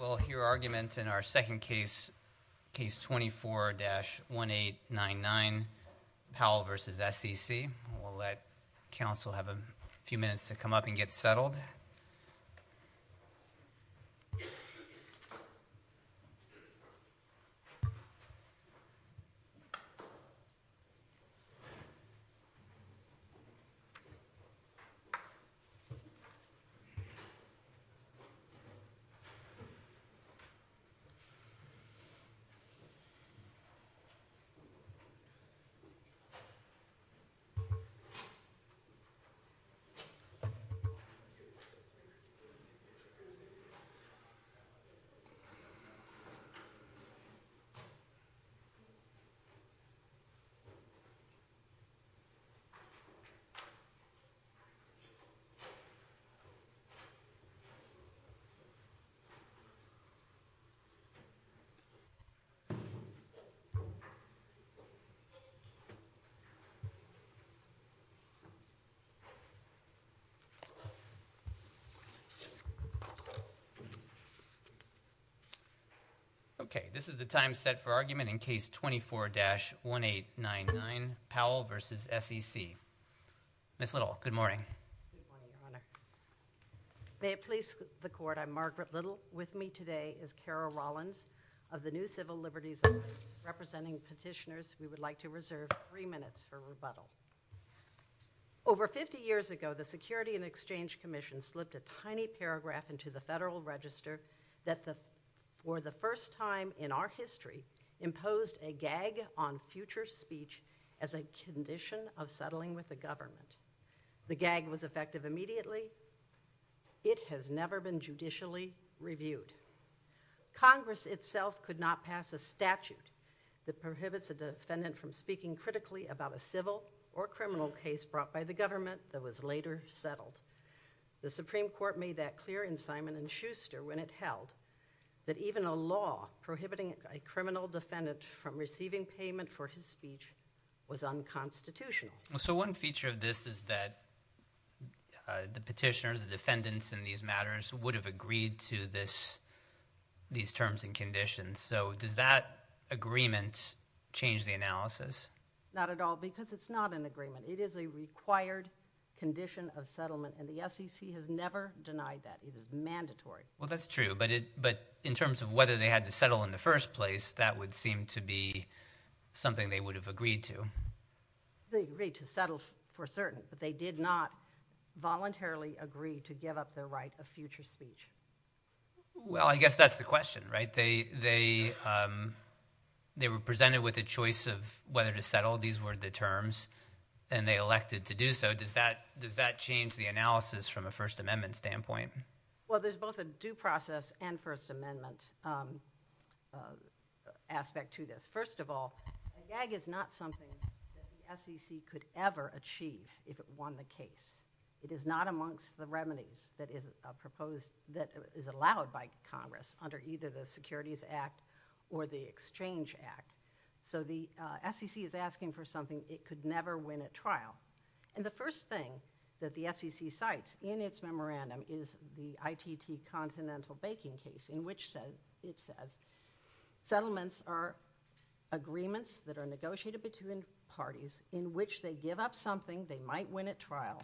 We'll hear argument in our second case, Case 24-1899, Powell v. SEC. We'll let counsel have a few minutes to come up and get settled. Case 24-1899, Powell v. SEC. Okay, this is the time set for argument in Case 24-1899, Powell v. SEC. Ms. Little, good morning. Good morning, Your Honor. May it please the Court, I'm Margaret Little. With me today is Carol Rollins of the new Civil Liberties Alliance. Representing petitioners, we would like to reserve three minutes for rebuttal. Over 50 years ago, the Security and Exchange Commission slipped a tiny paragraph into the Federal Register that for the first time in our history, imposed a gag on future speech as a condition of settling with the government. The gag was effective immediately. It has never been judicially reviewed. Congress itself could not pass a statute that prohibits a defendant from speaking critically about a civil or criminal case brought by the government that was later settled. The Supreme Court made that clear in Simon & Schuster when it held that even a law prohibiting a criminal defendant from receiving payment for his speech was unconstitutional. So one feature of this is that the petitioners, the defendants in these matters would have agreed to these terms and conditions. So does that agreement change the analysis? Not at all, because it's not an agreement. It is a required condition of settlement, and the SEC has never denied that. It is mandatory. Well, that's true, but in terms of whether they had to settle in the first place, that would seem to be something they would have agreed to. They agreed to settle for certain, but they did not voluntarily agree to give up their right of future speech. Well, I guess that's the question, right? They were presented with a choice of whether to settle. These were the terms, and they elected to do so. Does that change the analysis from a First Amendment standpoint? Well, there's both a due process and First Amendment aspect to this. First of all, a gag is not something that the SEC could ever achieve if it won the case. It is not amongst the remedies that is allowed by Congress under either the Securities Act or the Exchange Act. So the SEC is asking for something it could never win at trial, and the first thing that the SEC cites in its memorandum is the ITT continental baking case in which it says settlements are agreements that are negotiated between parties in which they give up something they might win at trial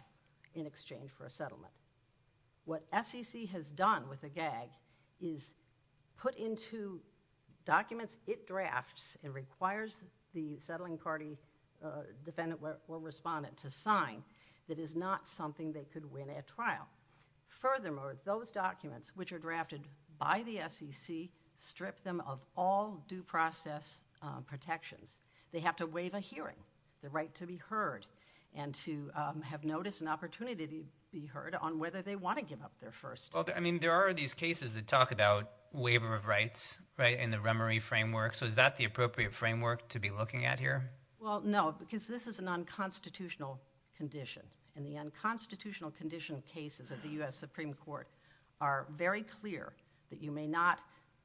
in exchange for a settlement. What SEC has done with a gag is put into documents it drafts and requires the settling party defendant or respondent to sign that is not something they could win at trial. Furthermore, those documents which are drafted by the SEC strip them of all due process protections. They have to waive a hearing, the right to be heard, and to have notice and opportunity to be heard on whether they want to give up their first. Well, I mean, there are these cases that talk about waiver of rights, right, in the remory framework. So is that the appropriate framework to be looking at here? Well, no, because this is an unconstitutional condition, and the unconstitutional condition cases of the U.S. Supreme Court are very clear that you may not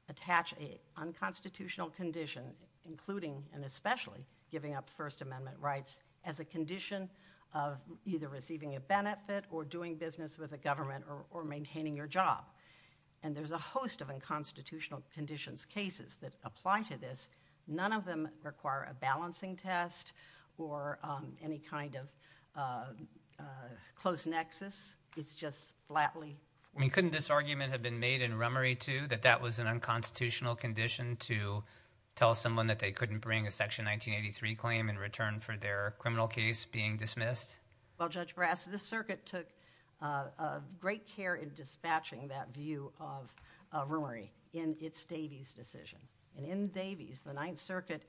attach an unconstitutional condition including and especially giving up First Amendment rights as a condition of either receiving a benefit or doing business with a government or maintaining your job, and there's a host of unconstitutional conditions cases that apply to this. None of them require a balancing test or any kind of close nexus. It's just flatly. I mean, couldn't this argument have been made in remory too that that was an unconstitutional condition to tell someone that they couldn't bring a Section 1983 claim in return for their criminal case being dismissed? Well, Judge Brass, this circuit took great care in dispatching that view of remory in its Davies decision. And in Davies, the Ninth Circuit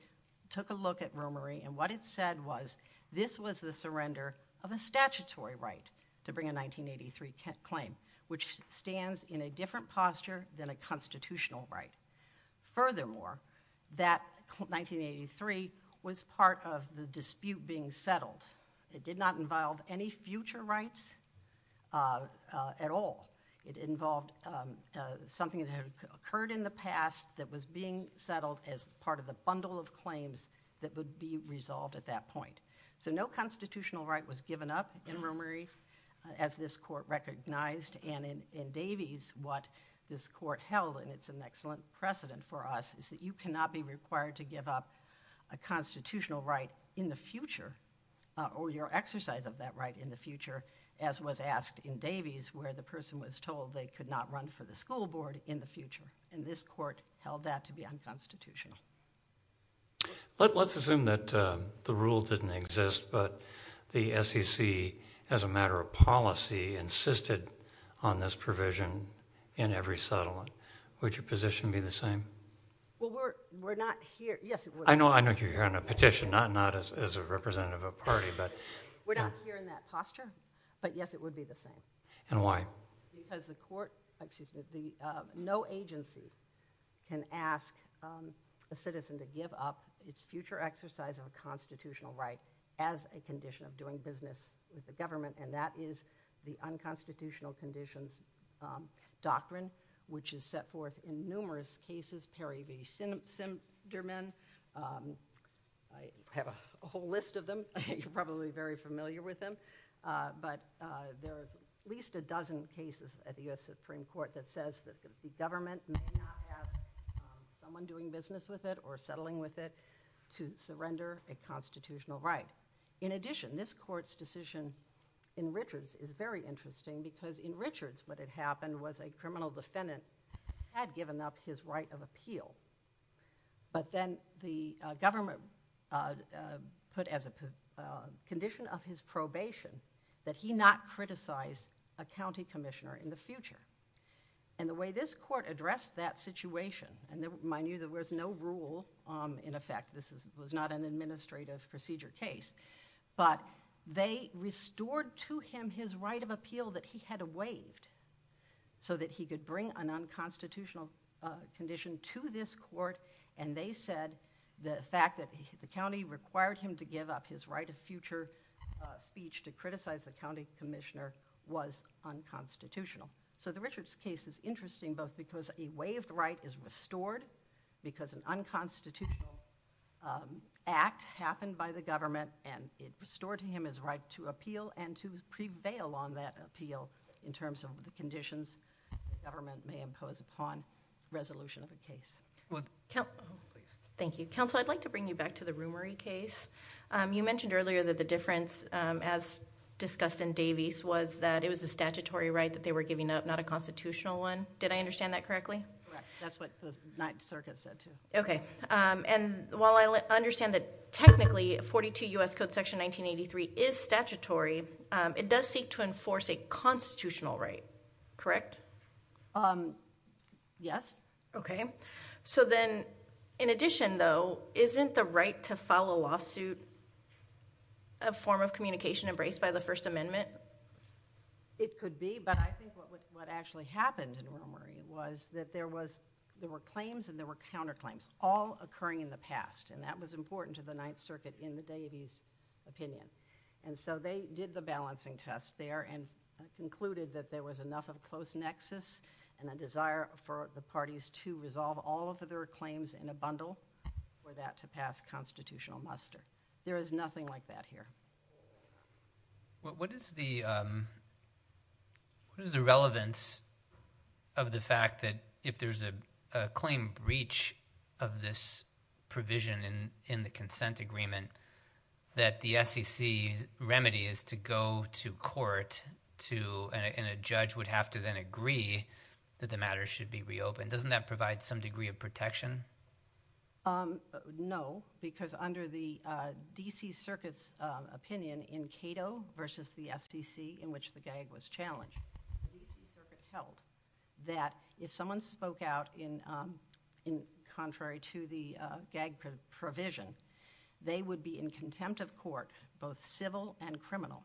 took a look at remory, and what it said was this was the surrender of a statutory right to bring a 1983 claim, which stands in a different posture than a constitutional right. Furthermore, that 1983 was part of the dispute being settled. It did not involve any future rights at all. It involved something that had occurred in the past that was being settled as part of the bundle of claims that would be resolved at that point. So no constitutional right was given up in remory as this court recognized, and in Davies what this court held, and it's an excellent precedent for us, is that you cannot be required to give up a constitutional right in the future or your exercise of that right in the future, as was asked in Davies where the person was told they could not run for the school board in the future. And this court held that to be unconstitutional. Let's assume that the rule didn't exist, but the SEC as a matter of policy insisted on this provision in every settlement. Would your position be the same? Well, we're not here. I know you're here on a petition, not as a representative of a party. We're not here in that posture, but yes, it would be the same. And why? Because no agency can ask a citizen to give up its future exercise of a constitutional right as a condition of doing business with the government, and that is the unconstitutional conditions doctrine, which is set forth in numerous cases, Perry v. Sinderman. I have a whole list of them. You're probably very familiar with them, but there's at least a dozen cases at the U.S. Supreme Court that says that the government may not ask someone doing business with it or settling with it to surrender a constitutional right. In addition, this court's decision in Richards is very interesting because in Richards what had happened was a criminal defendant had given up his right of appeal, but then the government put as a condition of his probation that he not criticize a county commissioner in the future. And the way this court addressed that situation, and mind you, there was no rule in effect. This was not an administrative procedure case, but they restored to him his right of appeal that he had waived so that he could bring an unconstitutional condition to this court, and they said the fact that the county required him to give up his right of future speech to criticize the county commissioner was unconstitutional. So the Richards case is interesting both because a waived right is restored because an unconstitutional act happened by the government, and it restored to him his right to appeal and to prevail on that appeal in terms of the conditions the government may impose upon resolution of the case. Thank you. Counsel, I'd like to bring you back to the Rumery case. You mentioned earlier that the difference as discussed in Davies was that it was a statutory right that they were giving up, not a constitutional one. Did I understand that correctly? Correct. That's what the Ninth Circuit said too. Okay. And while I understand that technically 42 U.S. Code Section 1983 is statutory, it does seek to enforce a constitutional right, correct? Yes. So then in addition, though, isn't the right to file a lawsuit a form of communication embraced by the First Amendment? It could be, but I think what actually happened in Rumery was that there were claims and there were counterclaims all occurring in the past, and that was important to the Ninth Circuit in the Davies opinion. And so they did the balancing test there and concluded that there was enough of a close nexus and a desire for the parties to resolve all of their claims in a bundle for that to pass constitutional muster. There is nothing like that here. What is the relevance of the fact that if there's a claim breach of this provision in the consent agreement that the SEC's remedy is to go to court and a judge would have to then agree that the matter should be reopened? Doesn't that provide some degree of protection? No, because under the D.C. Circuit's opinion in Cato versus the S.D.C. in which the gag was challenged, the D.C. Circuit held that if someone spoke out contrary to the gag provision, they would be in contempt of court, both civil and criminal.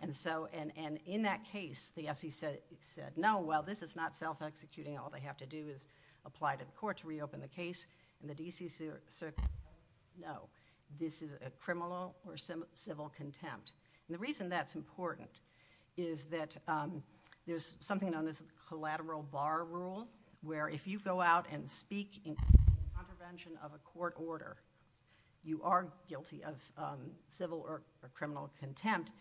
And in that case, the SEC said, no, well, this is not self-executing, all they have to do is apply to the court to reopen the case, and the D.C. Circuit said, no, this is a criminal or civil contempt. And the reason that's important is that there's something known as collateral bar rule where if you go out and speak in contravention of a court order, you are guilty of civil or criminal contempt.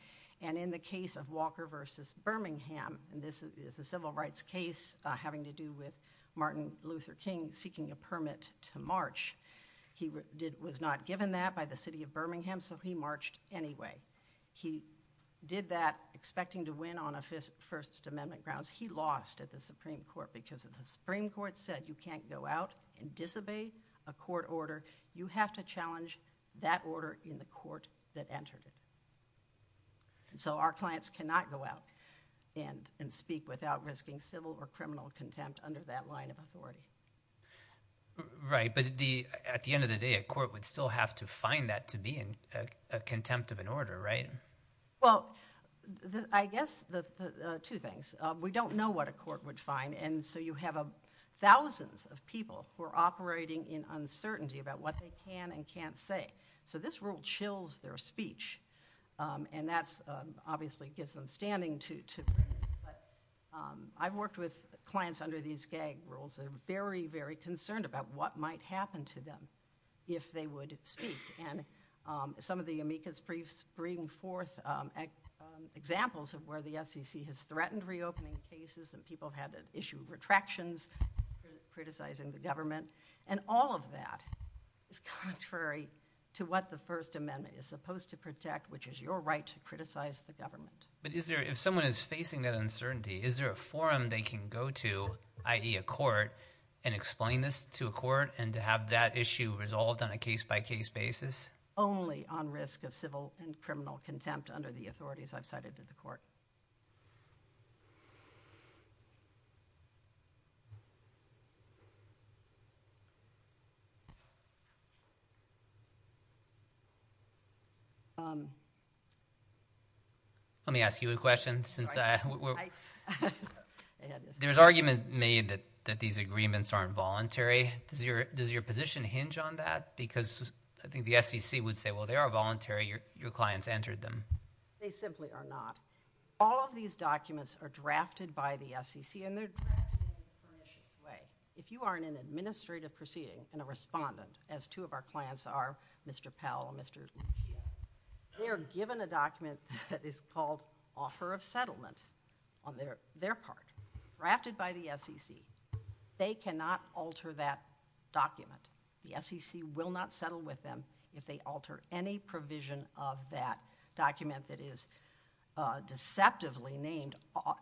And in the case of Walker versus Birmingham, this is a civil rights case having to do with Martin Luther King seeking a permit to march. He was not given that by the city of Birmingham, so he marched anyway. He did that expecting to win on a First Amendment grounds. He lost at the Supreme Court because the Supreme Court said, you can't go out and disobey a court order. You have to challenge that order in the court that entered it. And so our clients cannot go out and speak without risking civil or criminal contempt under that line of authority. Right, but at the end of the day, a court would still have to find that to be in contempt of an order, right? Well, I guess two things. We don't know what a court would find, and so you have thousands of people who are operating in uncertainty about what they can and can't say. So this rule chills their speech, and that obviously gives them standing to bring it. But I've worked with clients under these gag rules. They're very, very concerned about what might happen to them if they would speak. And some of the amicus briefs bring forth examples of where the SEC has threatened reopening cases, and people have had to issue retractions criticizing the government. And all of that is contrary to what the First Amendment is supposed to protect, which is your right to criticize the government. But if someone is facing that uncertainty, is there a forum they can go to, i.e. a court, and explain this to a court and to have that issue resolved on a case-by-case basis? Only on risk of civil and criminal contempt under the authorities I've cited to the court. Let me ask you a question. There's argument made that these agreements aren't voluntary. Does your position hinge on that? Because I think the SEC would say, well, they are voluntary. Your clients entered them. They simply are not. All of these documents are drafted by the SEC, and they're drafted in a pernicious way. If you are in an administrative proceeding and a respondent, as two of our clients are, Mr. Powell and Mr. Lucia, they are given a document that is called offer of settlement on their part, drafted by the SEC. They cannot alter that document. The SEC will not settle with them if they alter any provision of that document that is deceptively named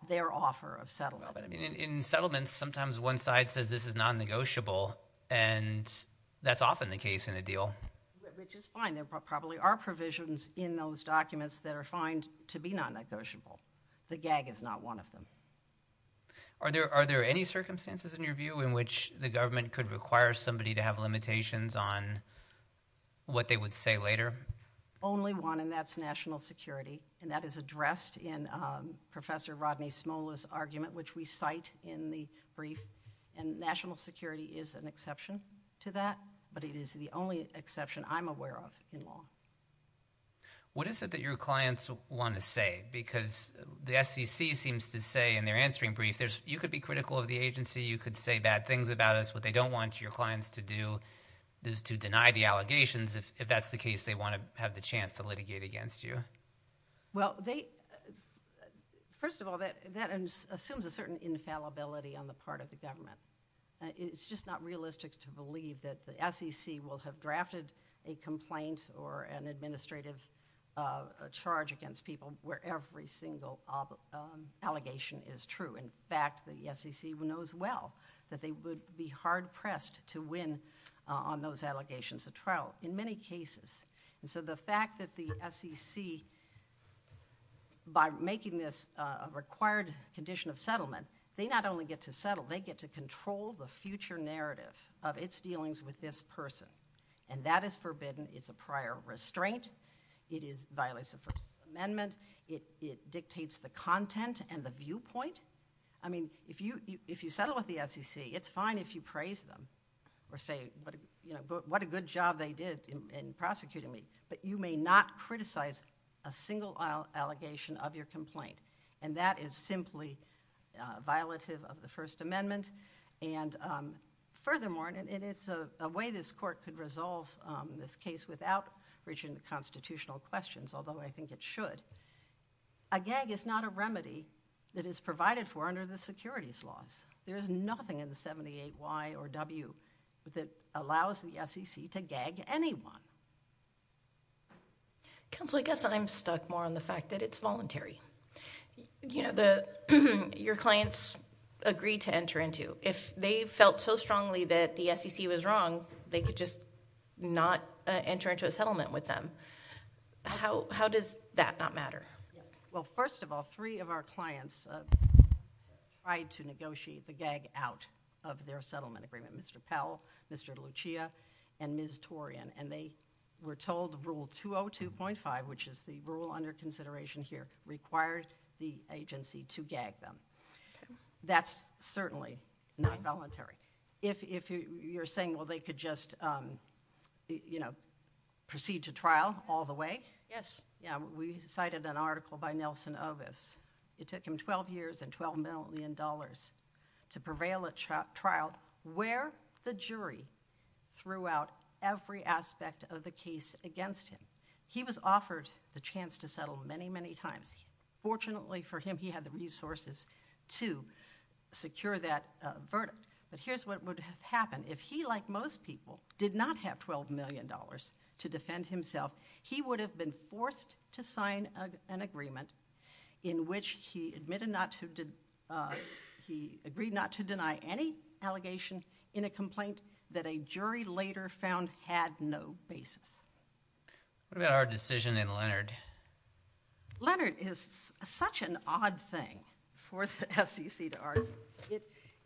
their offer of settlement. In settlements, sometimes one side says this is non-negotiable, and that's often the case in a deal. Which is fine. There probably are provisions in those documents that are fined to be non-negotiable. The gag is not one of them. Are there any circumstances, in your view, in which the government could require somebody to have limitations on what they would say later? Only one, and that's national security. And that is addressed in Professor Rodney Smola's argument, which we cite in the brief. And national security is an exception to that, but it is the only exception I'm aware of in law. What is it that your clients want to say? Because the SEC seems to say in their answering brief, you could be critical of the agency, you could say bad things about us. What they don't want your clients to do is to deny the allegations if that's the case they want to have the chance to litigate against you. Well, first of all, that assumes a certain infallibility on the part of the government. It's just not realistic to believe that the SEC will have drafted a complaint or an administrative charge against people where every single allegation is true. In fact, the SEC knows well that they would be hard-pressed to win on those allegations of trial in many cases. And so the fact that the SEC, by making this a required condition of settlement, they not only get to settle, they get to control the future narrative of its dealings with this person. And that is forbidden, it's a prior restraint, it violates the First Amendment, it dictates the content and the viewpoint. I mean, if you settle with the SEC, it's fine if you praise them or say what a good job they did in prosecuting me, but you may not criticize a single allegation of your complaint. And that is simply violative of the First Amendment. And furthermore, and it's a way this court could resolve this case without reaching the constitutional questions, although I think it should, a gag is not a remedy that is provided for under the securities laws. There is nothing in the 78Y or W that allows the SEC to gag anyone. Counsel, I guess I'm stuck more on the fact that it's voluntary. You know, your clients agreed to enter into. If they felt so strongly that the SEC was wrong, they could just not enter into a settlement with them. How does that not matter? Well, first of all, three of our clients tried to negotiate the gag out of their settlement agreement, Mr. Powell, Mr. Lucia, and Ms. Torian. And they were told Rule 202.5, which is the rule under consideration here, required the agency to gag them. That's certainly not voluntary. If you're saying, well, they could just, you know, proceed to trial all the way? Yes. Yeah, we cited an article by Nelson Ovis. It took him 12 years and $12 million to prevail at trial where the jury threw out every aspect of the case against him. He was offered the chance to settle many, many times. Fortunately for him, he had the resources to secure that verdict. But here's what would have happened. If he, like most people, did not have $12 million to defend himself, he would have been forced to sign an agreement in which he agreed not to deny any allegation in a complaint that a jury later found had no basis. What about our decision in Leonard? Leonard is such an odd thing for the SEC to argue.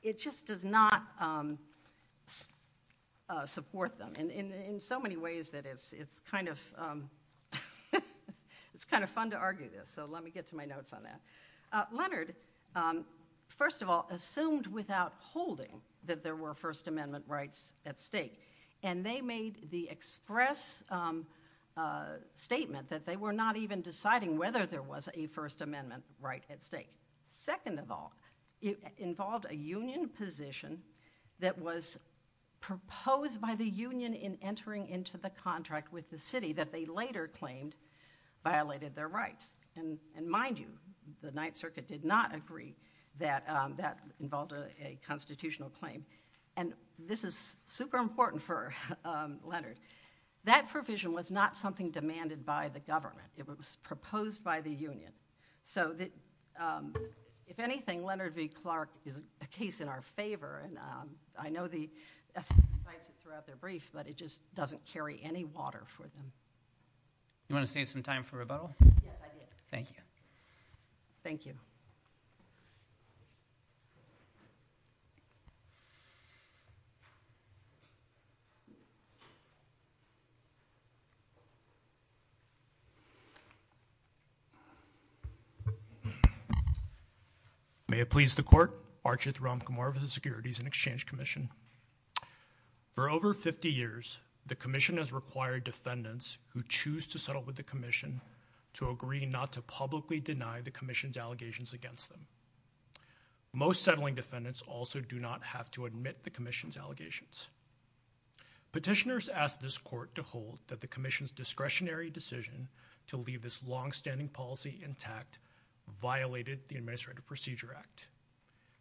It just does not support them in so many ways that it's kind of fun to argue this. So let me get to my notes on that. Leonard, first of all, assumed without holding that there were First Amendment rights at stake. And they made the express statement that they were not even deciding whether there was a First Amendment right at stake. Second of all, it involved a union position that was proposed by the union in entering into the contract with the city that they later claimed violated their rights. And mind you, the Ninth Circuit did not agree that that involved a constitutional claim. And this is super important for Leonard. That provision was not something demanded by the government. It was proposed by the union. So if anything, Leonard v. Clark is a case in our favor. And I know the SEC decides it throughout their brief, but it just doesn't carry any water for them. You want to save some time for rebuttal? Yes, I do. Thank you. Thank you. May it please the Court. Archith Ramkumar of the Securities and Exchange Commission. For over 50 years, the commission has required defendants who choose to settle with the commission to agree not to publicly deny the commission's allegations against them. Most settling defendants also do not have to admit the commission's allegations. Petitioners ask this court to hold that the commission's discretionary decision to leave this longstanding policy intact violated the Administrative Procedure Act.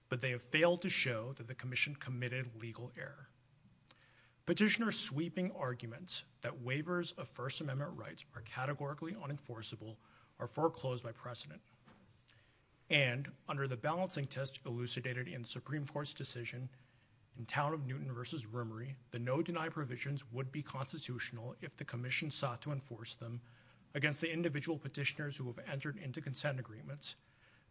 But they have failed to show that the commission committed legal error. Petitioners' sweeping arguments that waivers of First Amendment rights are categorically unenforceable are foreclosed by precedent. And under the balancing test elucidated in the Supreme Court's decision in Town of Newton v. Rimmery, the no-deny provisions would be constitutional if the commission sought to enforce them against the individual petitioners who have entered into consent agreements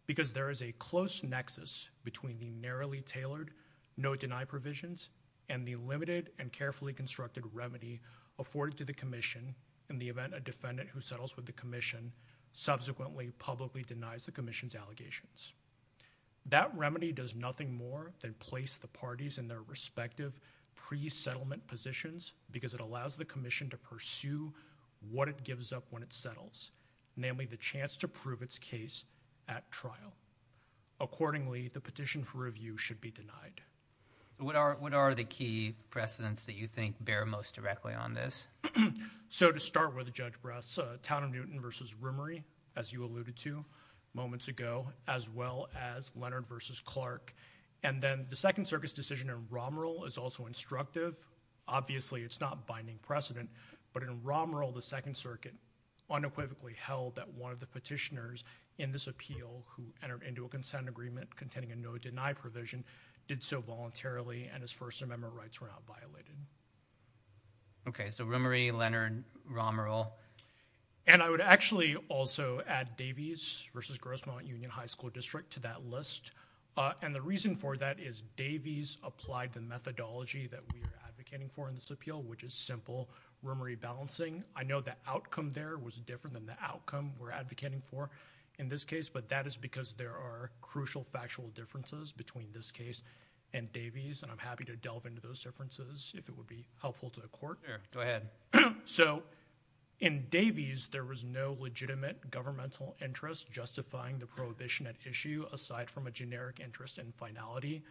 because there is a close nexus between the narrowly tailored no-deny provisions and the limited and carefully constructed remedy afforded to the commission in the event a defendant who settles with the commission subsequently publicly denies the commission's allegations. That remedy does nothing more than place the parties in their respective pre-settlement positions because it allows the commission to pursue what it gives up when it settles, namely the chance to prove its case at trial. Accordingly, the petition for review should be denied. What are the key precedents that you think bear most directly on this? So to start with, Judge Bress, Town of Newton v. Rimmery, as you alluded to moments ago, as well as Leonard v. Clark, and then the Second Circuit's decision in Romerill is also instructive. Obviously, it's not binding precedent. But in Romerill, the Second Circuit unequivocally held that one of the petitioners in this appeal who entered into a consent agreement containing a no-deny provision did so voluntarily and his First Amendment rights were not violated. Okay, so Rimmery, Leonard, Romerill. And I would actually also add Davies v. Grosmont Union High School District to that list. And the reason for that is Davies applied the methodology that we are advocating for in this appeal, which is simple Rimmery balancing. I know the outcome there was different than the outcome we're advocating for in this case, but that is because there are crucial factual differences between this case and Davies, and I'm happy to delve into those differences if it would be helpful to the Court. Go ahead. So in Davies, there was no legitimate governmental interest justifying the prohibition at issue aside from a generic interest in finality.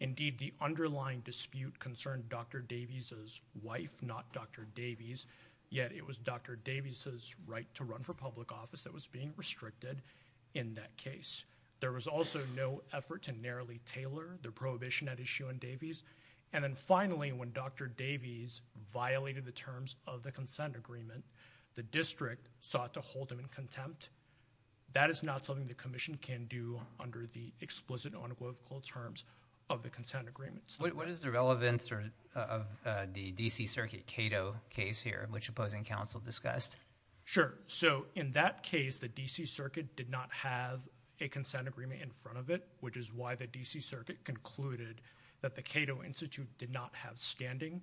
Indeed, the underlying dispute concerned Dr. Davies' wife, not Dr. Davies, yet it was Dr. Davies' right to run for public office that was being restricted in that case. There was also no effort to narrowly tailor the prohibition at issue in Davies. And then finally, when Dr. Davies violated the terms of the consent agreement, the district sought to hold him in contempt. That is not something the Commission can do under the explicit unequivocal terms of the consent agreements. What is the relevance of the D.C. Circuit Cato case here, which opposing counsel discussed? Sure. So in that case, the D.C. Circuit did not have a consent agreement in front of it, which is why the D.C. Circuit concluded that the Cato Institute did not have standing.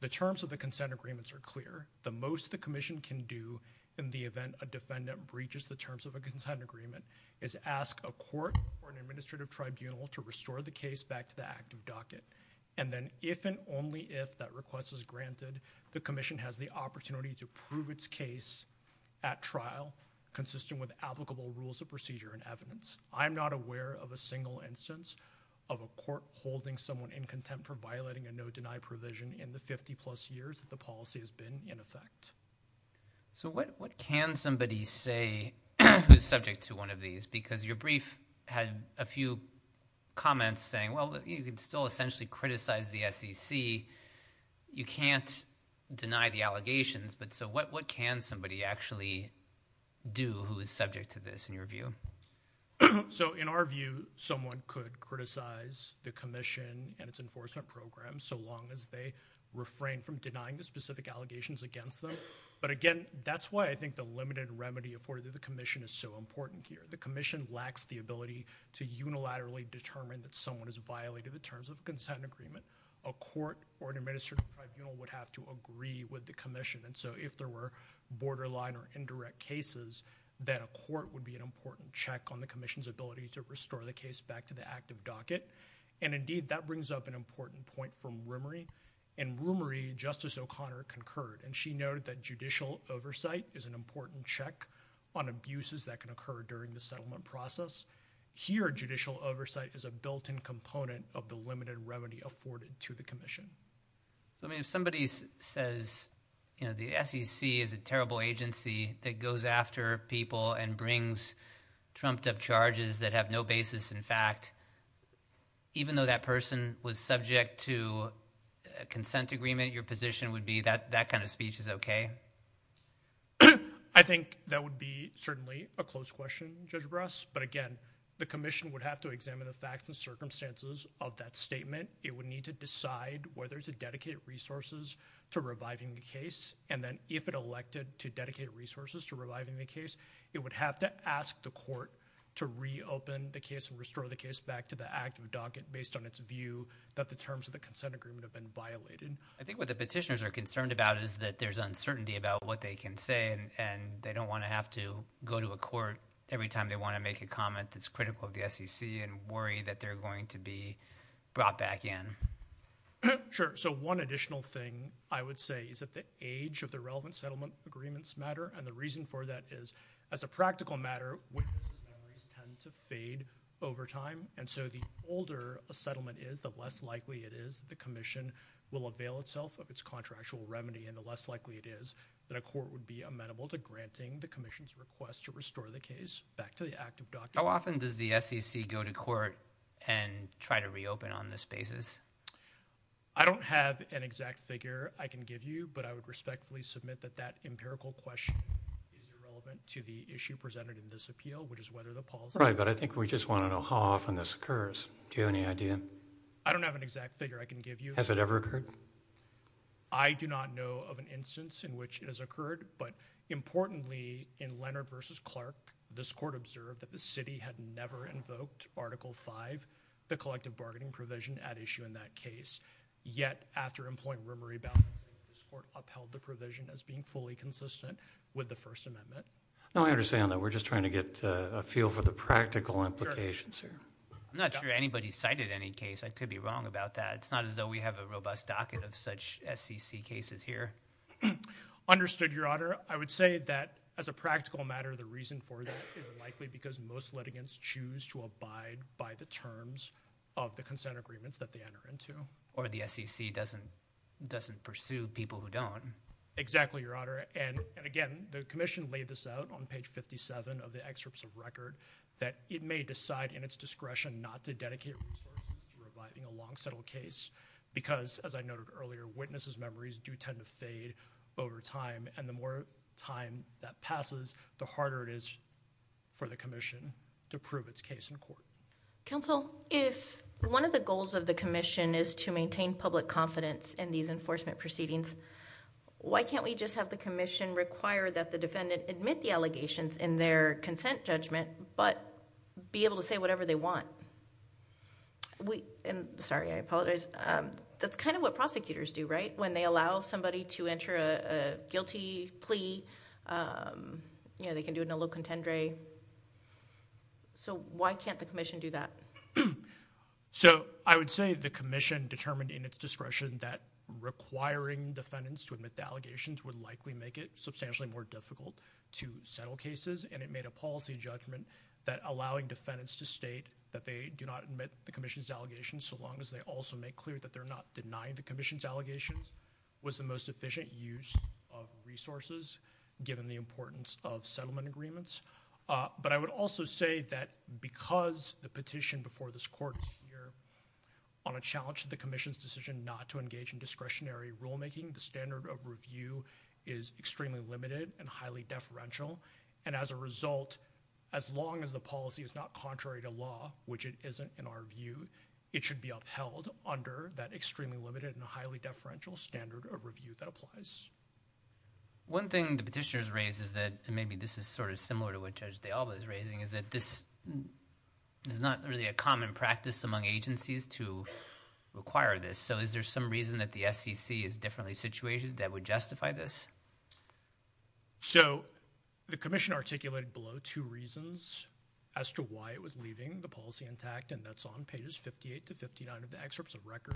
The terms of the consent agreements are clear. The most the Commission can do in the event a defendant breaches the terms of a consent agreement is ask a court or an administrative tribunal to restore the case back to the active docket. And then if and only if that request is granted, the Commission has the opportunity to prove its case at trial consistent with applicable rules of procedure and evidence. I am not aware of a single instance of a court holding someone in contempt for violating a no-deny provision in the 50-plus years that the policy has been in effect. So what can somebody say who is subject to one of these? Because your brief had a few comments saying, well, you can still essentially criticize the SEC. You can't deny the allegations, but so what can somebody actually do who is subject to this, in your view? So in our view, someone could criticize the Commission and its enforcement program so long as they refrain from denying the specific allegations against them. But again, that's why I think the limited remedy afforded to the Commission is so important here. The Commission lacks the ability to unilaterally determine that someone has violated the terms of a consent agreement. A court or an administrative tribunal would have to agree with the Commission. And so if there were borderline or indirect cases, then a court would be an important check on the Commission's ability to restore the case back to the active docket. And indeed, that brings up an important point from Rumerie. In Rumerie, Justice O'Connor concurred, and she noted that judicial oversight is an important check on abuses that can occur during the settlement process. Here, judicial oversight is a built-in component of the limited remedy afforded to the Commission. So, I mean, if somebody says, you know, the SEC is a terrible agency that goes after people and brings trumped-up charges that have no basis in fact, even though that person was subject to a consent agreement, your position would be that that kind of speech is okay? I think that would be certainly a close question, Judge Bras. But again, the Commission would have to examine the facts and circumstances of that statement. It would need to decide whether to dedicate resources to reviving the case, and then if it elected to dedicate resources to reviving the case, it would have to ask the court to reopen the case and restore the case back to the active docket based on its view that the terms of the consent agreement have been violated. I think what the petitioners are concerned about is that there's uncertainty about what they can say, and they don't want to have to go to a court every time they want to make a comment that's critical of the SEC and worry that they're going to be brought back in. Sure. So one additional thing I would say is that the age of the relevant settlement agreements matter, and the reason for that is as a practical matter, witnesses' memories tend to fade over time, and so the older a settlement is, the less likely it is the Commission will avail itself of its contractual remedy, and the less likely it is that a court would be amenable to granting the Commission's request to restore the case back to the active docket. How often does the SEC go to court and try to reopen on this basis? I don't have an exact figure I can give you, but I would respectfully submit that that empirical question is irrelevant to the issue presented in this appeal, which is whether the policy— Right, but I think we just want to know how often this occurs. Do you have any idea? I don't have an exact figure I can give you. Has it ever occurred? I do not know of an instance in which it has occurred, but importantly, in Leonard v. Clark, this court observed that the city had never invoked Article V, the collective bargaining provision at issue in that case, yet after employing rumor rebalancing, this court upheld the provision as being fully consistent with the First Amendment. No, I understand that. We're just trying to get a feel for the practical implications here. I'm not sure anybody cited any case. I could be wrong about that. It's not as though we have a robust docket of such SEC cases here. Understood, Your Honor. I would say that as a practical matter, the reason for that is unlikely because most litigants choose to abide by the terms of the consent agreements that they enter into. Or the SEC doesn't pursue people who don't. Exactly, Your Honor. And again, the commission laid this out on page 57 of the excerpts of record, that it may decide in its discretion not to dedicate resources to reviving a long-settled case because, as I noted earlier, witnesses' memories do tend to fade over time. And the more time that passes, the harder it is for the commission to prove its case in court. Counsel, if one of the goals of the commission is to maintain public confidence in these enforcement proceedings, why can't we just have the commission require that the defendant admit the allegations in their consent judgment, but be able to say whatever they want? Sorry, I apologize. That's kind of what prosecutors do, right? When they allow somebody to enter a guilty plea, you know, they can do it in a low contendere. So why can't the commission do that? So I would say the commission determined in its discretion that requiring defendants to admit the allegations would likely make it substantially more difficult to settle cases, and it made a policy judgment that allowing defendants to state that they do not admit the commission's allegations so long as they also make clear that they're not denying the commission's allegations was the most efficient use of resources, given the importance of settlement agreements. But I would also say that because the petition before this Court is here on a challenge to the commission's decision not to engage in discretionary rulemaking, the standard of review is extremely limited and highly deferential. And as a result, as long as the policy is not contrary to law, which it isn't in our view, it should be upheld under that extremely limited and highly deferential standard of review that applies. One thing the petitioners raised is that maybe this is sort of similar to what Judge DeAlba is raising, is that this is not really a common practice among agencies to require this. So is there some reason that the SEC is differently situated that would justify this? So the commission articulated below two reasons as to why it was leaving the policy intact, and that's on pages 58 to 59 of the excerpts of record.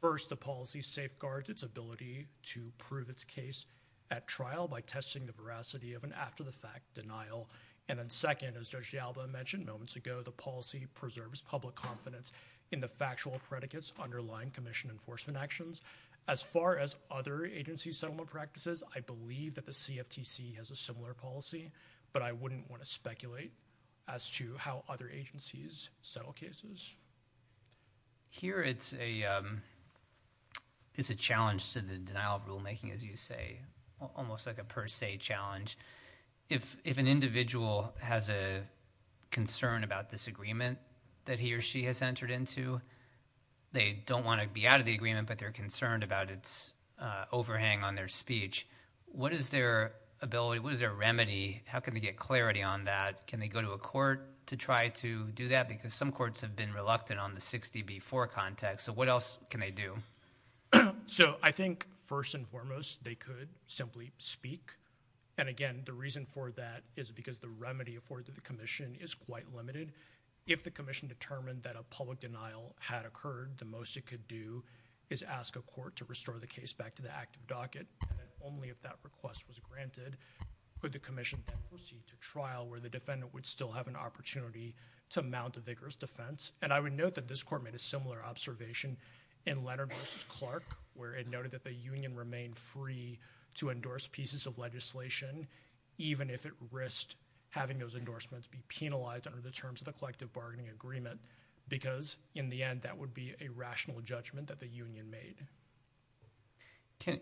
First, the policy safeguards its ability to prove its case at trial by testing the veracity of an after-the-fact denial. And then second, as Judge DeAlba mentioned moments ago, the policy preserves public confidence in the factual predicates underlying commission enforcement actions. As far as other agency settlement practices, I believe that the CFTC has a similar policy, but I wouldn't want to speculate as to how other agencies settle cases. Here it's a challenge to the denial of rulemaking, as you say, almost like a per se challenge. If an individual has a concern about this agreement that he or she has entered into, they don't want to be out of the agreement, but they're concerned about its overhang on their speech, what is their ability, what is their remedy, how can they get clarity on that? Can they go to a court to try to do that? Because some courts have been reluctant on the 60B4 context. So what else can they do? So I think first and foremost, they could simply speak. And again, the reason for that is because the remedy afforded to the commission is quite limited. If the commission determined that a public denial had occurred, the most it could do is ask a court to restore the case back to the active docket. And then only if that request was granted could the commission then proceed to trial where the defendant would still have an opportunity to mount a vigorous defense. And I would note that this court made a similar observation in Leonard v. Clark, where it noted that the union remained free to endorse pieces of legislation, even if it risked having those endorsements be penalized under the terms of the collective bargaining agreement, because in the end that would be a rational judgment that the union made.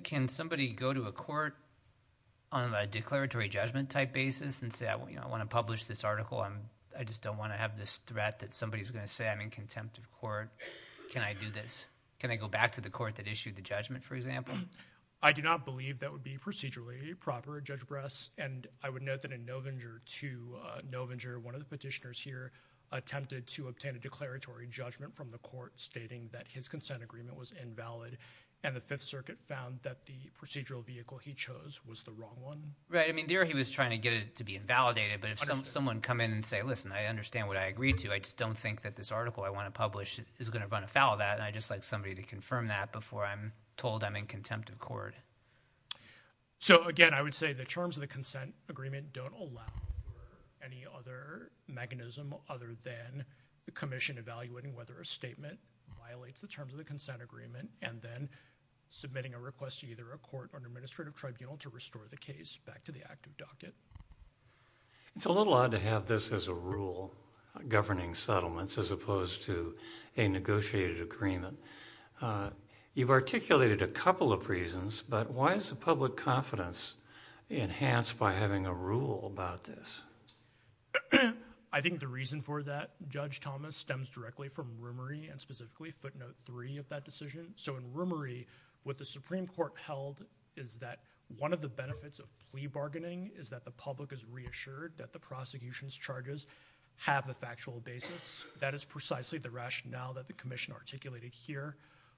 Can somebody go to a court on a declaratory judgment type basis and say I want to publish this article, I just don't want to have this threat that somebody is going to say I'm in contempt of court, can I do this? Can I go back to the court that issued the judgment, for example? I do not believe that would be procedurally proper, Judge Bress. And I would note that in Novinger v. Novinger, one of the petitioners here attempted to obtain a declaratory judgment from the court, stating that his consent agreement was invalid, and the Fifth Circuit found that the procedural vehicle he chose was the wrong one. Right. I mean there he was trying to get it to be invalidated, but if someone would come in and say, listen, I understand what I agreed to, I just don't think that this article I want to publish is going to run afoul of that, and I'd just like somebody to confirm that before I'm told I'm in contempt of court. So again, I would say the terms of the consent agreement don't allow for any other mechanism other than the commission evaluating whether a statement violates the terms of the consent agreement, and then submitting a request to either a court or an administrative tribunal to restore the case back to the active docket. It's a little odd to have this as a rule, governing settlements, as opposed to a negotiated agreement. You've articulated a couple of reasons, but why is the public confidence enhanced by having a rule about this? I think the reason for that, Judge Thomas, stems directly from rumory, and specifically footnote three of that decision. So in rumory, what the Supreme Court held is that one of the benefits of plea bargaining is that the public is reassured that the prosecution's charges have a factual basis. That is precisely the rationale that the commission articulated here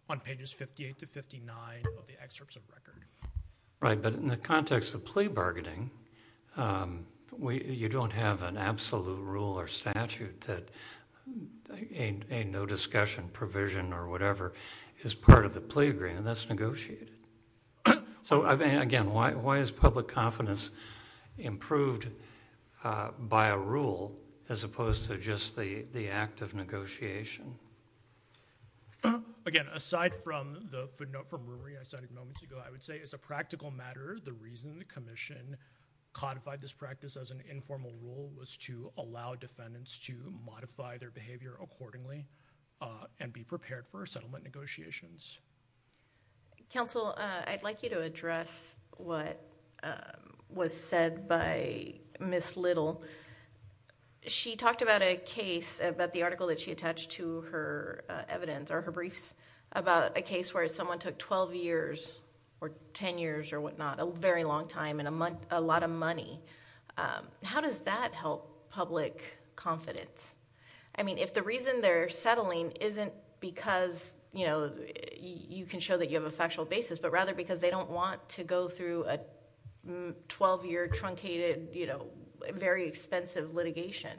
on pages 58 to 59 of the excerpts of record. Right, but in the context of plea bargaining, you don't have an absolute rule or statute that a no discussion provision or whatever is part of the plea agreement that's negotiated. Again, why is public confidence improved by a rule as opposed to just the act of negotiation? Again, aside from the footnote from rumory I cited moments ago, I would say as a practical matter, the reason the commission codified this practice as an informal rule was to allow defendants to modify their behavior accordingly and be prepared for settlement negotiations. Counsel, I'd like you to address what was said by Ms. Little. She talked about a case, about the article that she attached to her evidence or her briefs, about a case where someone took 12 years or 10 years or whatnot, a very long time and a lot of money. How does that help public confidence? If the reason they're settling isn't because you can show that you have a factual basis, but rather because they don't want to go through a 12-year truncated, very expensive litigation.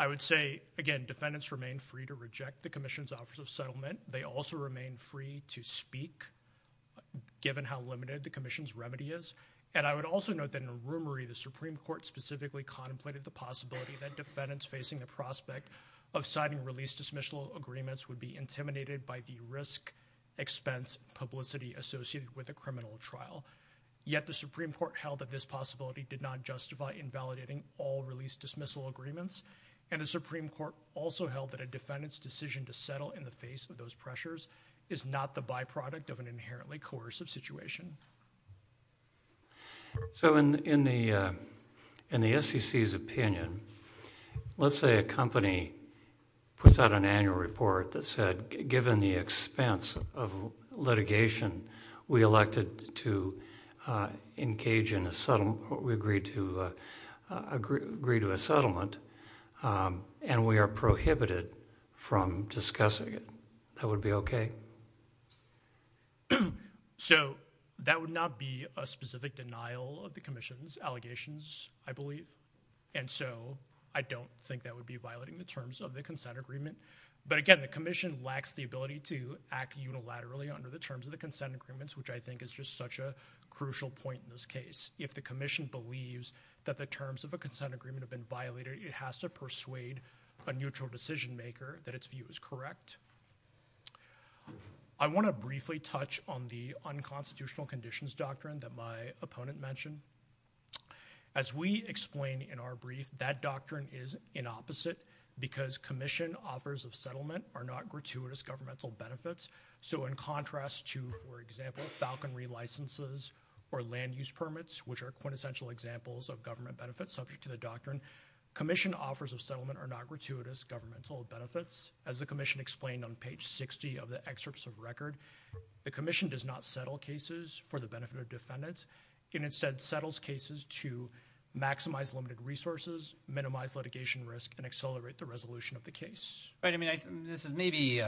I would say, again, defendants remain free to reject the commission's offers of settlement. They also remain free to speak, given how limited the commission's remedy is. I would also note that in a rumory, the Supreme Court specifically contemplated the possibility that defendants facing the prospect of signing release dismissal agreements would be intimidated by the risk expense publicity associated with a criminal trial. Yet, the Supreme Court held that this possibility did not justify invalidating all release dismissal agreements. The Supreme Court also held that a defendant's decision to settle in the face of those pressures is not the byproduct of an inherently coercive situation. In the SEC's opinion, let's say a company puts out an annual report that said, given the expense of litigation, we agreed to agree to a settlement, and we are prohibited from discussing it. That would be okay? That would not be a specific denial of the commission's allegations, I believe. I don't think that would be violating the terms of the consent agreement. But again, the commission lacks the ability to act unilaterally under the terms of the consent agreements, which I think is just such a crucial point in this case. If the commission believes that the terms of a consent agreement have been violated, it has to persuade a neutral decision maker that its view is correct. I want to briefly touch on the unconstitutional conditions doctrine that my opponent mentioned. As we explained in our brief, that doctrine is inopposite, because commission offers of settlement are not gratuitous governmental benefits. In contrast to, for example, falconry licenses or land use permits, which are quintessential examples of government benefits subject to the doctrine, commission offers of settlement are not gratuitous governmental benefits. As the commission explained on page 60 of the excerpts of record, the commission does not settle cases for the benefit of defendants. It instead settles cases to maximize limited resources, minimize litigation risk, and accelerate the resolution of the case. This is maybe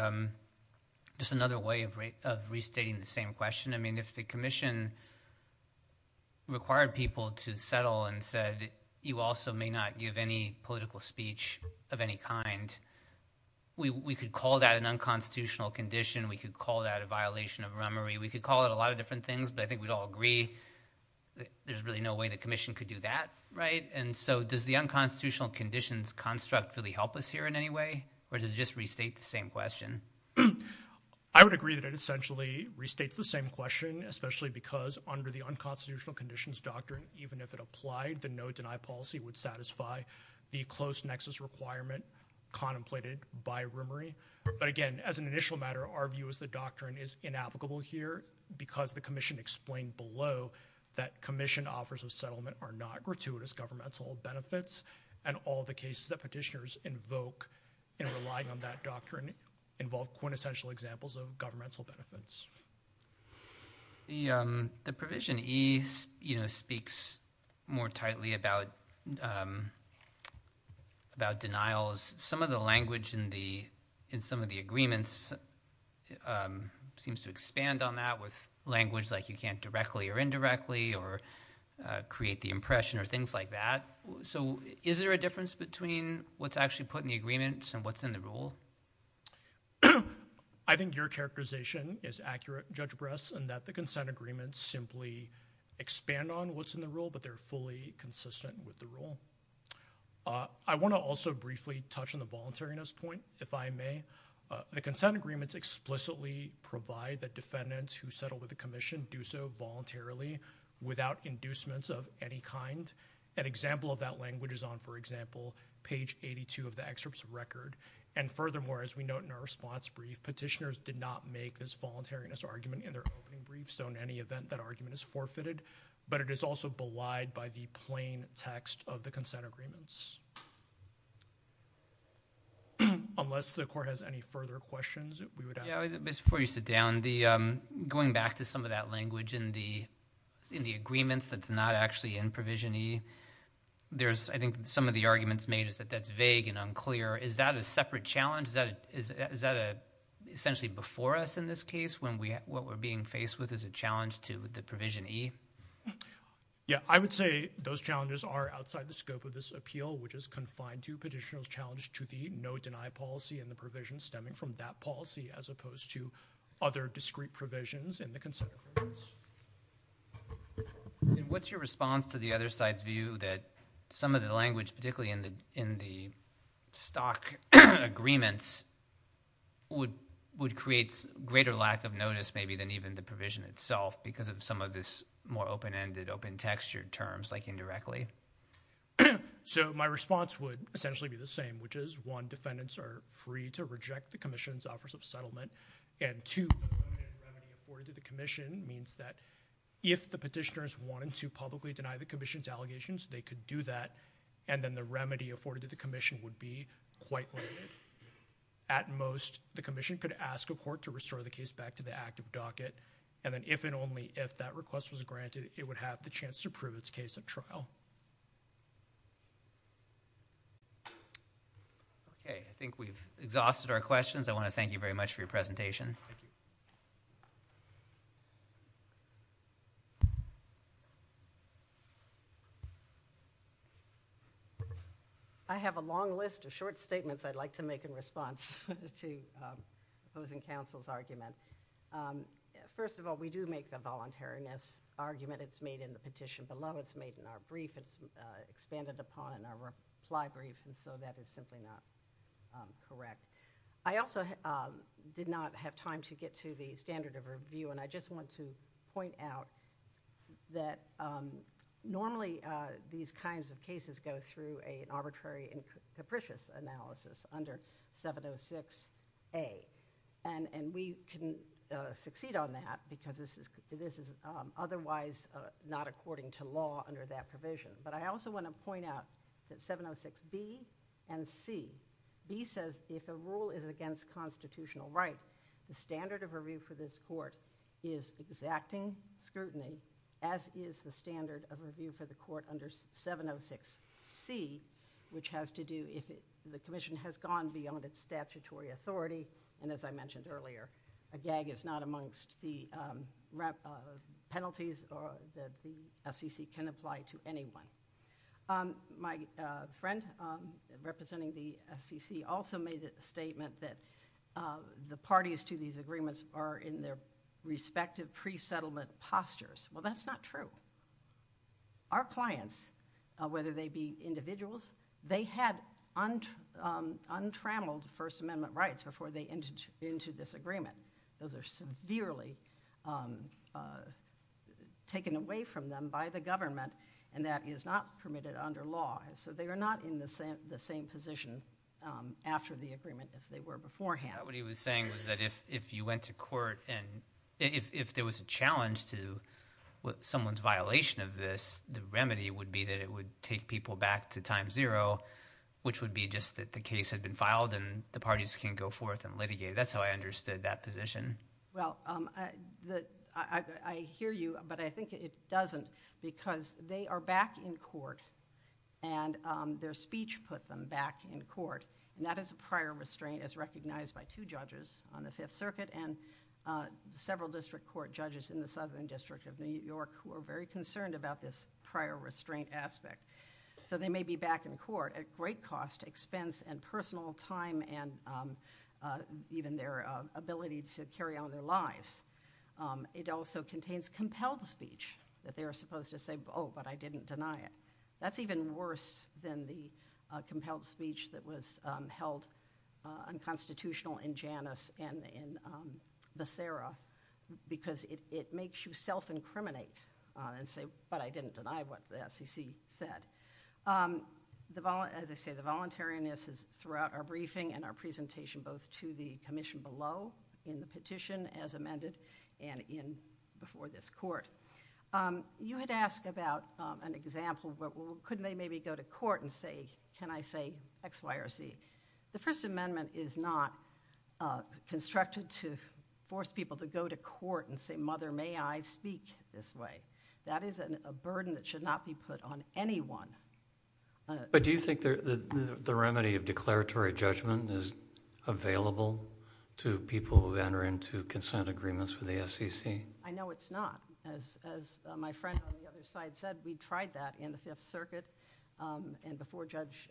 just another way of restating the same question. If the commission required people to settle and said, you also may not give any political speech of any kind, we could call that an unconstitutional condition. We could call that a violation of remory. We could call it a lot of different things, but I think we'd all agree there's really no way the commission could do that. Does the unconstitutional conditions construct really help us here in any way, or does it just restate the same question? I would agree that it essentially restates the same question, especially because under the unconstitutional conditions doctrine, even if it applied, the no-deny policy would satisfy the close nexus requirement contemplated by remory. But again, as an initial matter, our view is the doctrine is inapplicable here because the commission explained below that commission offers of settlement are not gratuitous governmental benefits, and all the cases that petitioners invoke in relying on that doctrine involve quintessential examples of governmental benefits. The provision E speaks more tightly about denials. Some of the language in some of the agreements seems to expand on that with language like you can't directly or indirectly or create the impression or things like that. So is there a difference between what's actually put in the agreements and what's in the rule? I think your characterization is accurate, Judge Bress, in that the consent agreements simply expand on what's in the rule, but they're fully consistent with the rule. I want to also briefly touch on the voluntariness point, if I may. The consent agreements explicitly provide that defendants who settle with the commission do so voluntarily without inducements of any kind. An example of that language is on, for example, page 82 of the excerpts of record. And furthermore, as we note in our response brief, petitioners did not make this voluntariness argument in their opening brief. So in any event, that argument is forfeited, but it is also belied by the plain text of the consent agreements. Unless the court has any further questions, we would ask. Before you sit down, going back to some of that language in the agreements that's not actually in provision E, I think some of the arguments made is that that's vague and unclear. Is that a separate challenge? Is that essentially before us in this case when what we're being faced with is a challenge to the provision E? Yeah, I would say those challenges are outside the scope of this appeal, which is confined to petitioner's challenge to the no-deny policy and the provision stemming from that policy, as opposed to other discrete provisions in the consent agreements. And what's your response to the other side's view that some of the language, particularly in the stock agreements, would create greater lack of notice maybe than even the provision itself because of some of this more open-ended, open-textured terms, like indirectly? So my response would essentially be the same, which is, one, defendants are free to reject the commission's offers of settlement, and two, the limited remedy afforded to the commission means that if the petitioners wanted to publicly deny the commission's allegations, they could do that, and then the remedy afforded to the commission would be quite limited. At most, the commission could ask a court to restore the case back to the active docket, and then if and only if that request was granted, it would have the chance to prove its case at trial. Okay, I think we've exhausted our questions. I want to thank you very much for your presentation. I have a long list of short statements I'd like to make in response to opposing counsel's argument. First of all, we do make the voluntariness argument. It's made in the petition below. It's made in our brief. It's expanded upon in our reply brief, and so that is simply not correct. I also did not have time to get to the standard of review, and I just want to point out that normally these kinds of cases go through an arbitrary and capricious analysis under 706A, and we can succeed on that because this is otherwise not according to law under that provision, but I also want to point out that 706B and C, B says if a rule is against constitutional right, the standard of review for this court is exacting scrutiny, as is the standard of review for the court under 706C, which has to do if the commission has gone beyond its statutory authority, and as I mentioned earlier, a gag is not amongst the penalties that the SEC can apply to anyone. My friend representing the SEC also made the statement that the parties to these agreements are in their respective pre-settlement postures. Well, that's not true. Our clients, whether they be individuals, they had untrammeled First Amendment rights before they entered into this agreement. Those are severely taken away from them by the government, and that is not permitted under law, and so they are not in the same position after the agreement as they were beforehand. What he was saying was that if you went to court and if there was a challenge to someone's violation of this, the remedy would be that it would take people back to time zero, which would be just that the case had been filed and the parties can go forth and litigate. That's how I understood that position. Well, I hear you, but I think it doesn't because they are back in court, and their speech put them back in court, and that is a prior restraint as recognized by two judges on the Fifth Circuit and several district court judges in the Southern District of New York who are very concerned about this prior restraint aspect. So they may be back in court at great cost, expense, and personal time, and even their ability to carry on their lives. It also contains compelled speech that they are supposed to say, oh, but I didn't deny it. That's even worse than the compelled speech that was held unconstitutional in Janus and in Becerra because it makes you self-incriminate and say, but I didn't deny what the SEC said. As I say, the voluntariness is throughout our briefing and our presentation both to the commission below in the petition as amended and before this court. You had asked about an example, well, couldn't they maybe go to court and say, can I say X, Y, or Z? The First Amendment is not constructed to force people to go to court and say, mother, may I speak this way. That is a burden that should not be put on anyone. But do you think the remedy of declaratory judgment is available to people who enter into consent agreements with the SEC? I know it's not. As my friend on the other side said, we tried that in the Fifth Circuit and before Judge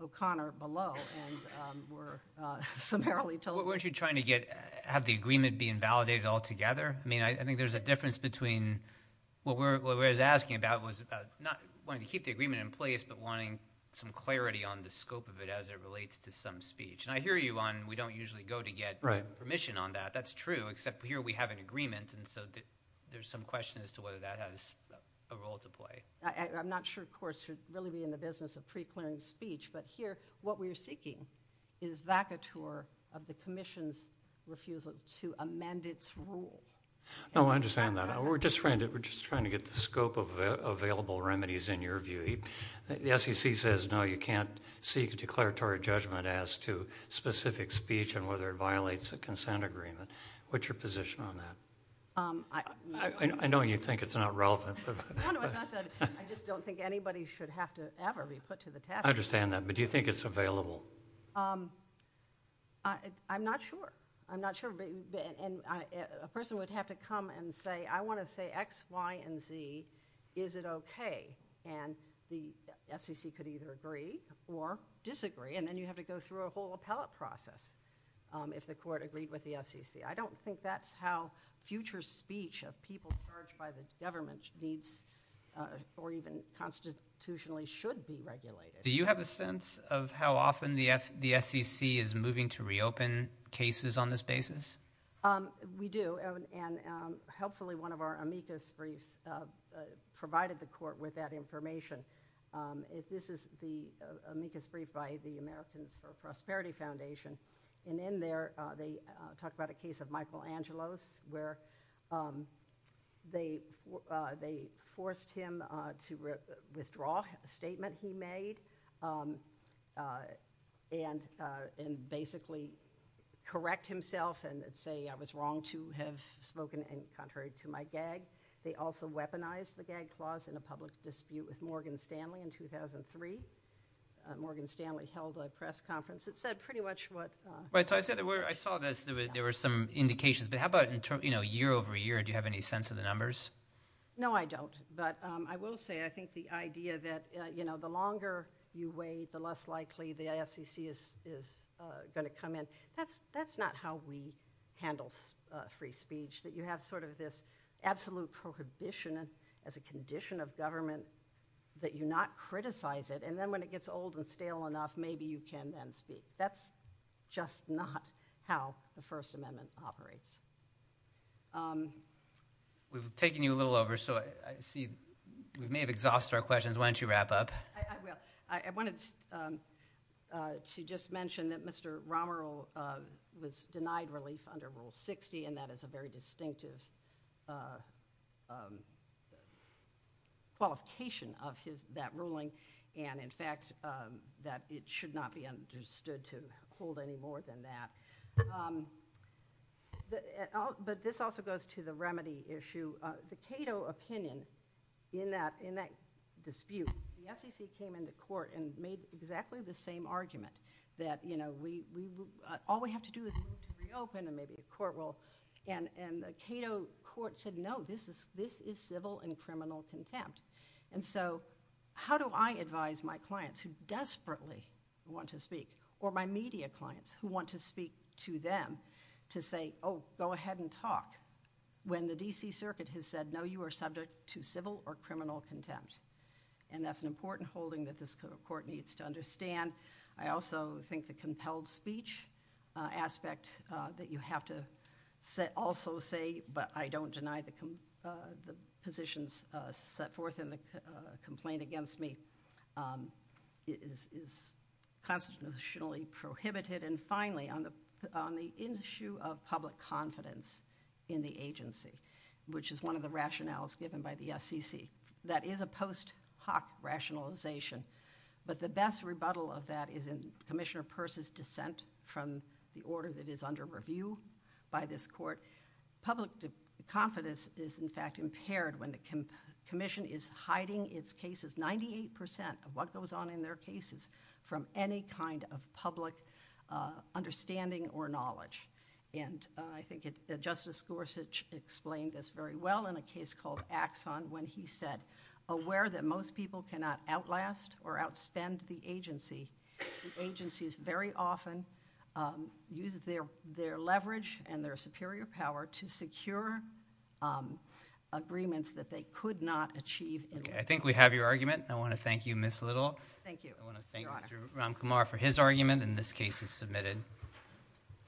O'Connor below and were summarily told... Weren't you trying to have the agreement be invalidated altogether? I think there's a difference between... What I was asking about was not wanting to keep the agreement in place but wanting some clarity on the scope of it as it relates to some speech. I hear you on we don't usually go to get permission on that. That's true, except here we have an agreement. There's some question as to whether that has a role to play. I'm not sure courts should really be in the business of pre-clearing speech, but here what we're seeking is vacatur of the Commission's refusal to amend its rule. I understand that. We're just trying to get the scope of available remedies in your view. The SEC says no, you can't seek a declaratory judgment as to specific speech and whether it violates a consent agreement. What's your position on that? I know you think it's not relevant. No, it's not relevant. I just don't think anybody should have to ever be put to the test. I understand that, but do you think it's available? I'm not sure. I'm not sure. A person would have to come and say, I want to say X, Y, and Z, is it okay? The SEC could either agree or disagree, and then you have to go through a whole appellate process if the court agreed with the SEC. I don't think that's how future speech of people charged by the government needs or even constitutionally should be regulated. Do you have a sense of how often the SEC is moving to reopen cases on this basis? We do, and helpfully one of our amicus briefs provided the court with that information. This is the amicus brief by the Americans for Prosperity Foundation, and in there they talk about a case of Michelangelo's where they forced him to withdraw a statement he made and basically correct himself and say I was wrong to have spoken in contrary to my gag. They also weaponized the gag clause in a public dispute with Morgan Stanley in 2003. Morgan Stanley held a press conference. It said pretty much what— I saw there were some indications, but how about year over year? Do you have any sense of the numbers? No, I don't, but I will say I think the idea that the longer you wait, the less likely the SEC is going to come in, that's not how we handle free speech, that you have sort of this absolute prohibition as a condition of government that you not criticize it, and then when it gets old and stale enough, maybe you can then speak. That's just not how the First Amendment operates. We've taken you a little over, so I see we may have exhausted our questions. Why don't you wrap up? I will. I wanted to just mention that Mr. Romer was denied relief under Rule 60, and that is a very distinctive qualification of that ruling, and in fact that it should not be understood to hold any more than that. But this also goes to the remedy issue. The Cato opinion in that dispute, the SEC came into court and made exactly the same argument that all we have to do is move to reopen and maybe the court will, and the Cato court said no, this is civil and criminal contempt. So how do I advise my clients who desperately want to speak or my media clients who want to speak to them to say, oh, go ahead and talk when the D.C. Circuit has said no, you are subject to civil or criminal contempt, and that's an important holding that this court needs to understand. I also think the compelled speech aspect that you have to also say, but I don't deny the positions set forth in the complaint against me, is constitutionally prohibited. And finally, on the issue of public confidence in the agency, which is one of the rationales given by the SEC, that is a post hoc rationalization, but the best rebuttal of that is in Commissioner Peirce's dissent from the order that is under review by this court. Public confidence is in fact impaired when the commission is hiding its cases, 98% of what goes on in their cases, from any kind of public understanding or knowledge. And I think Justice Gorsuch explained this very well in a case called Axon when he said, aware that most people cannot outlast or outspend the agency, agencies very often use their leverage and their superior power to secure agreements that they could not achieve. I think we have your argument. I want to thank you, Ms. Little. Thank you, Your Honor. I want to thank Mr. Ramkumar for his argument, and this case is submitted.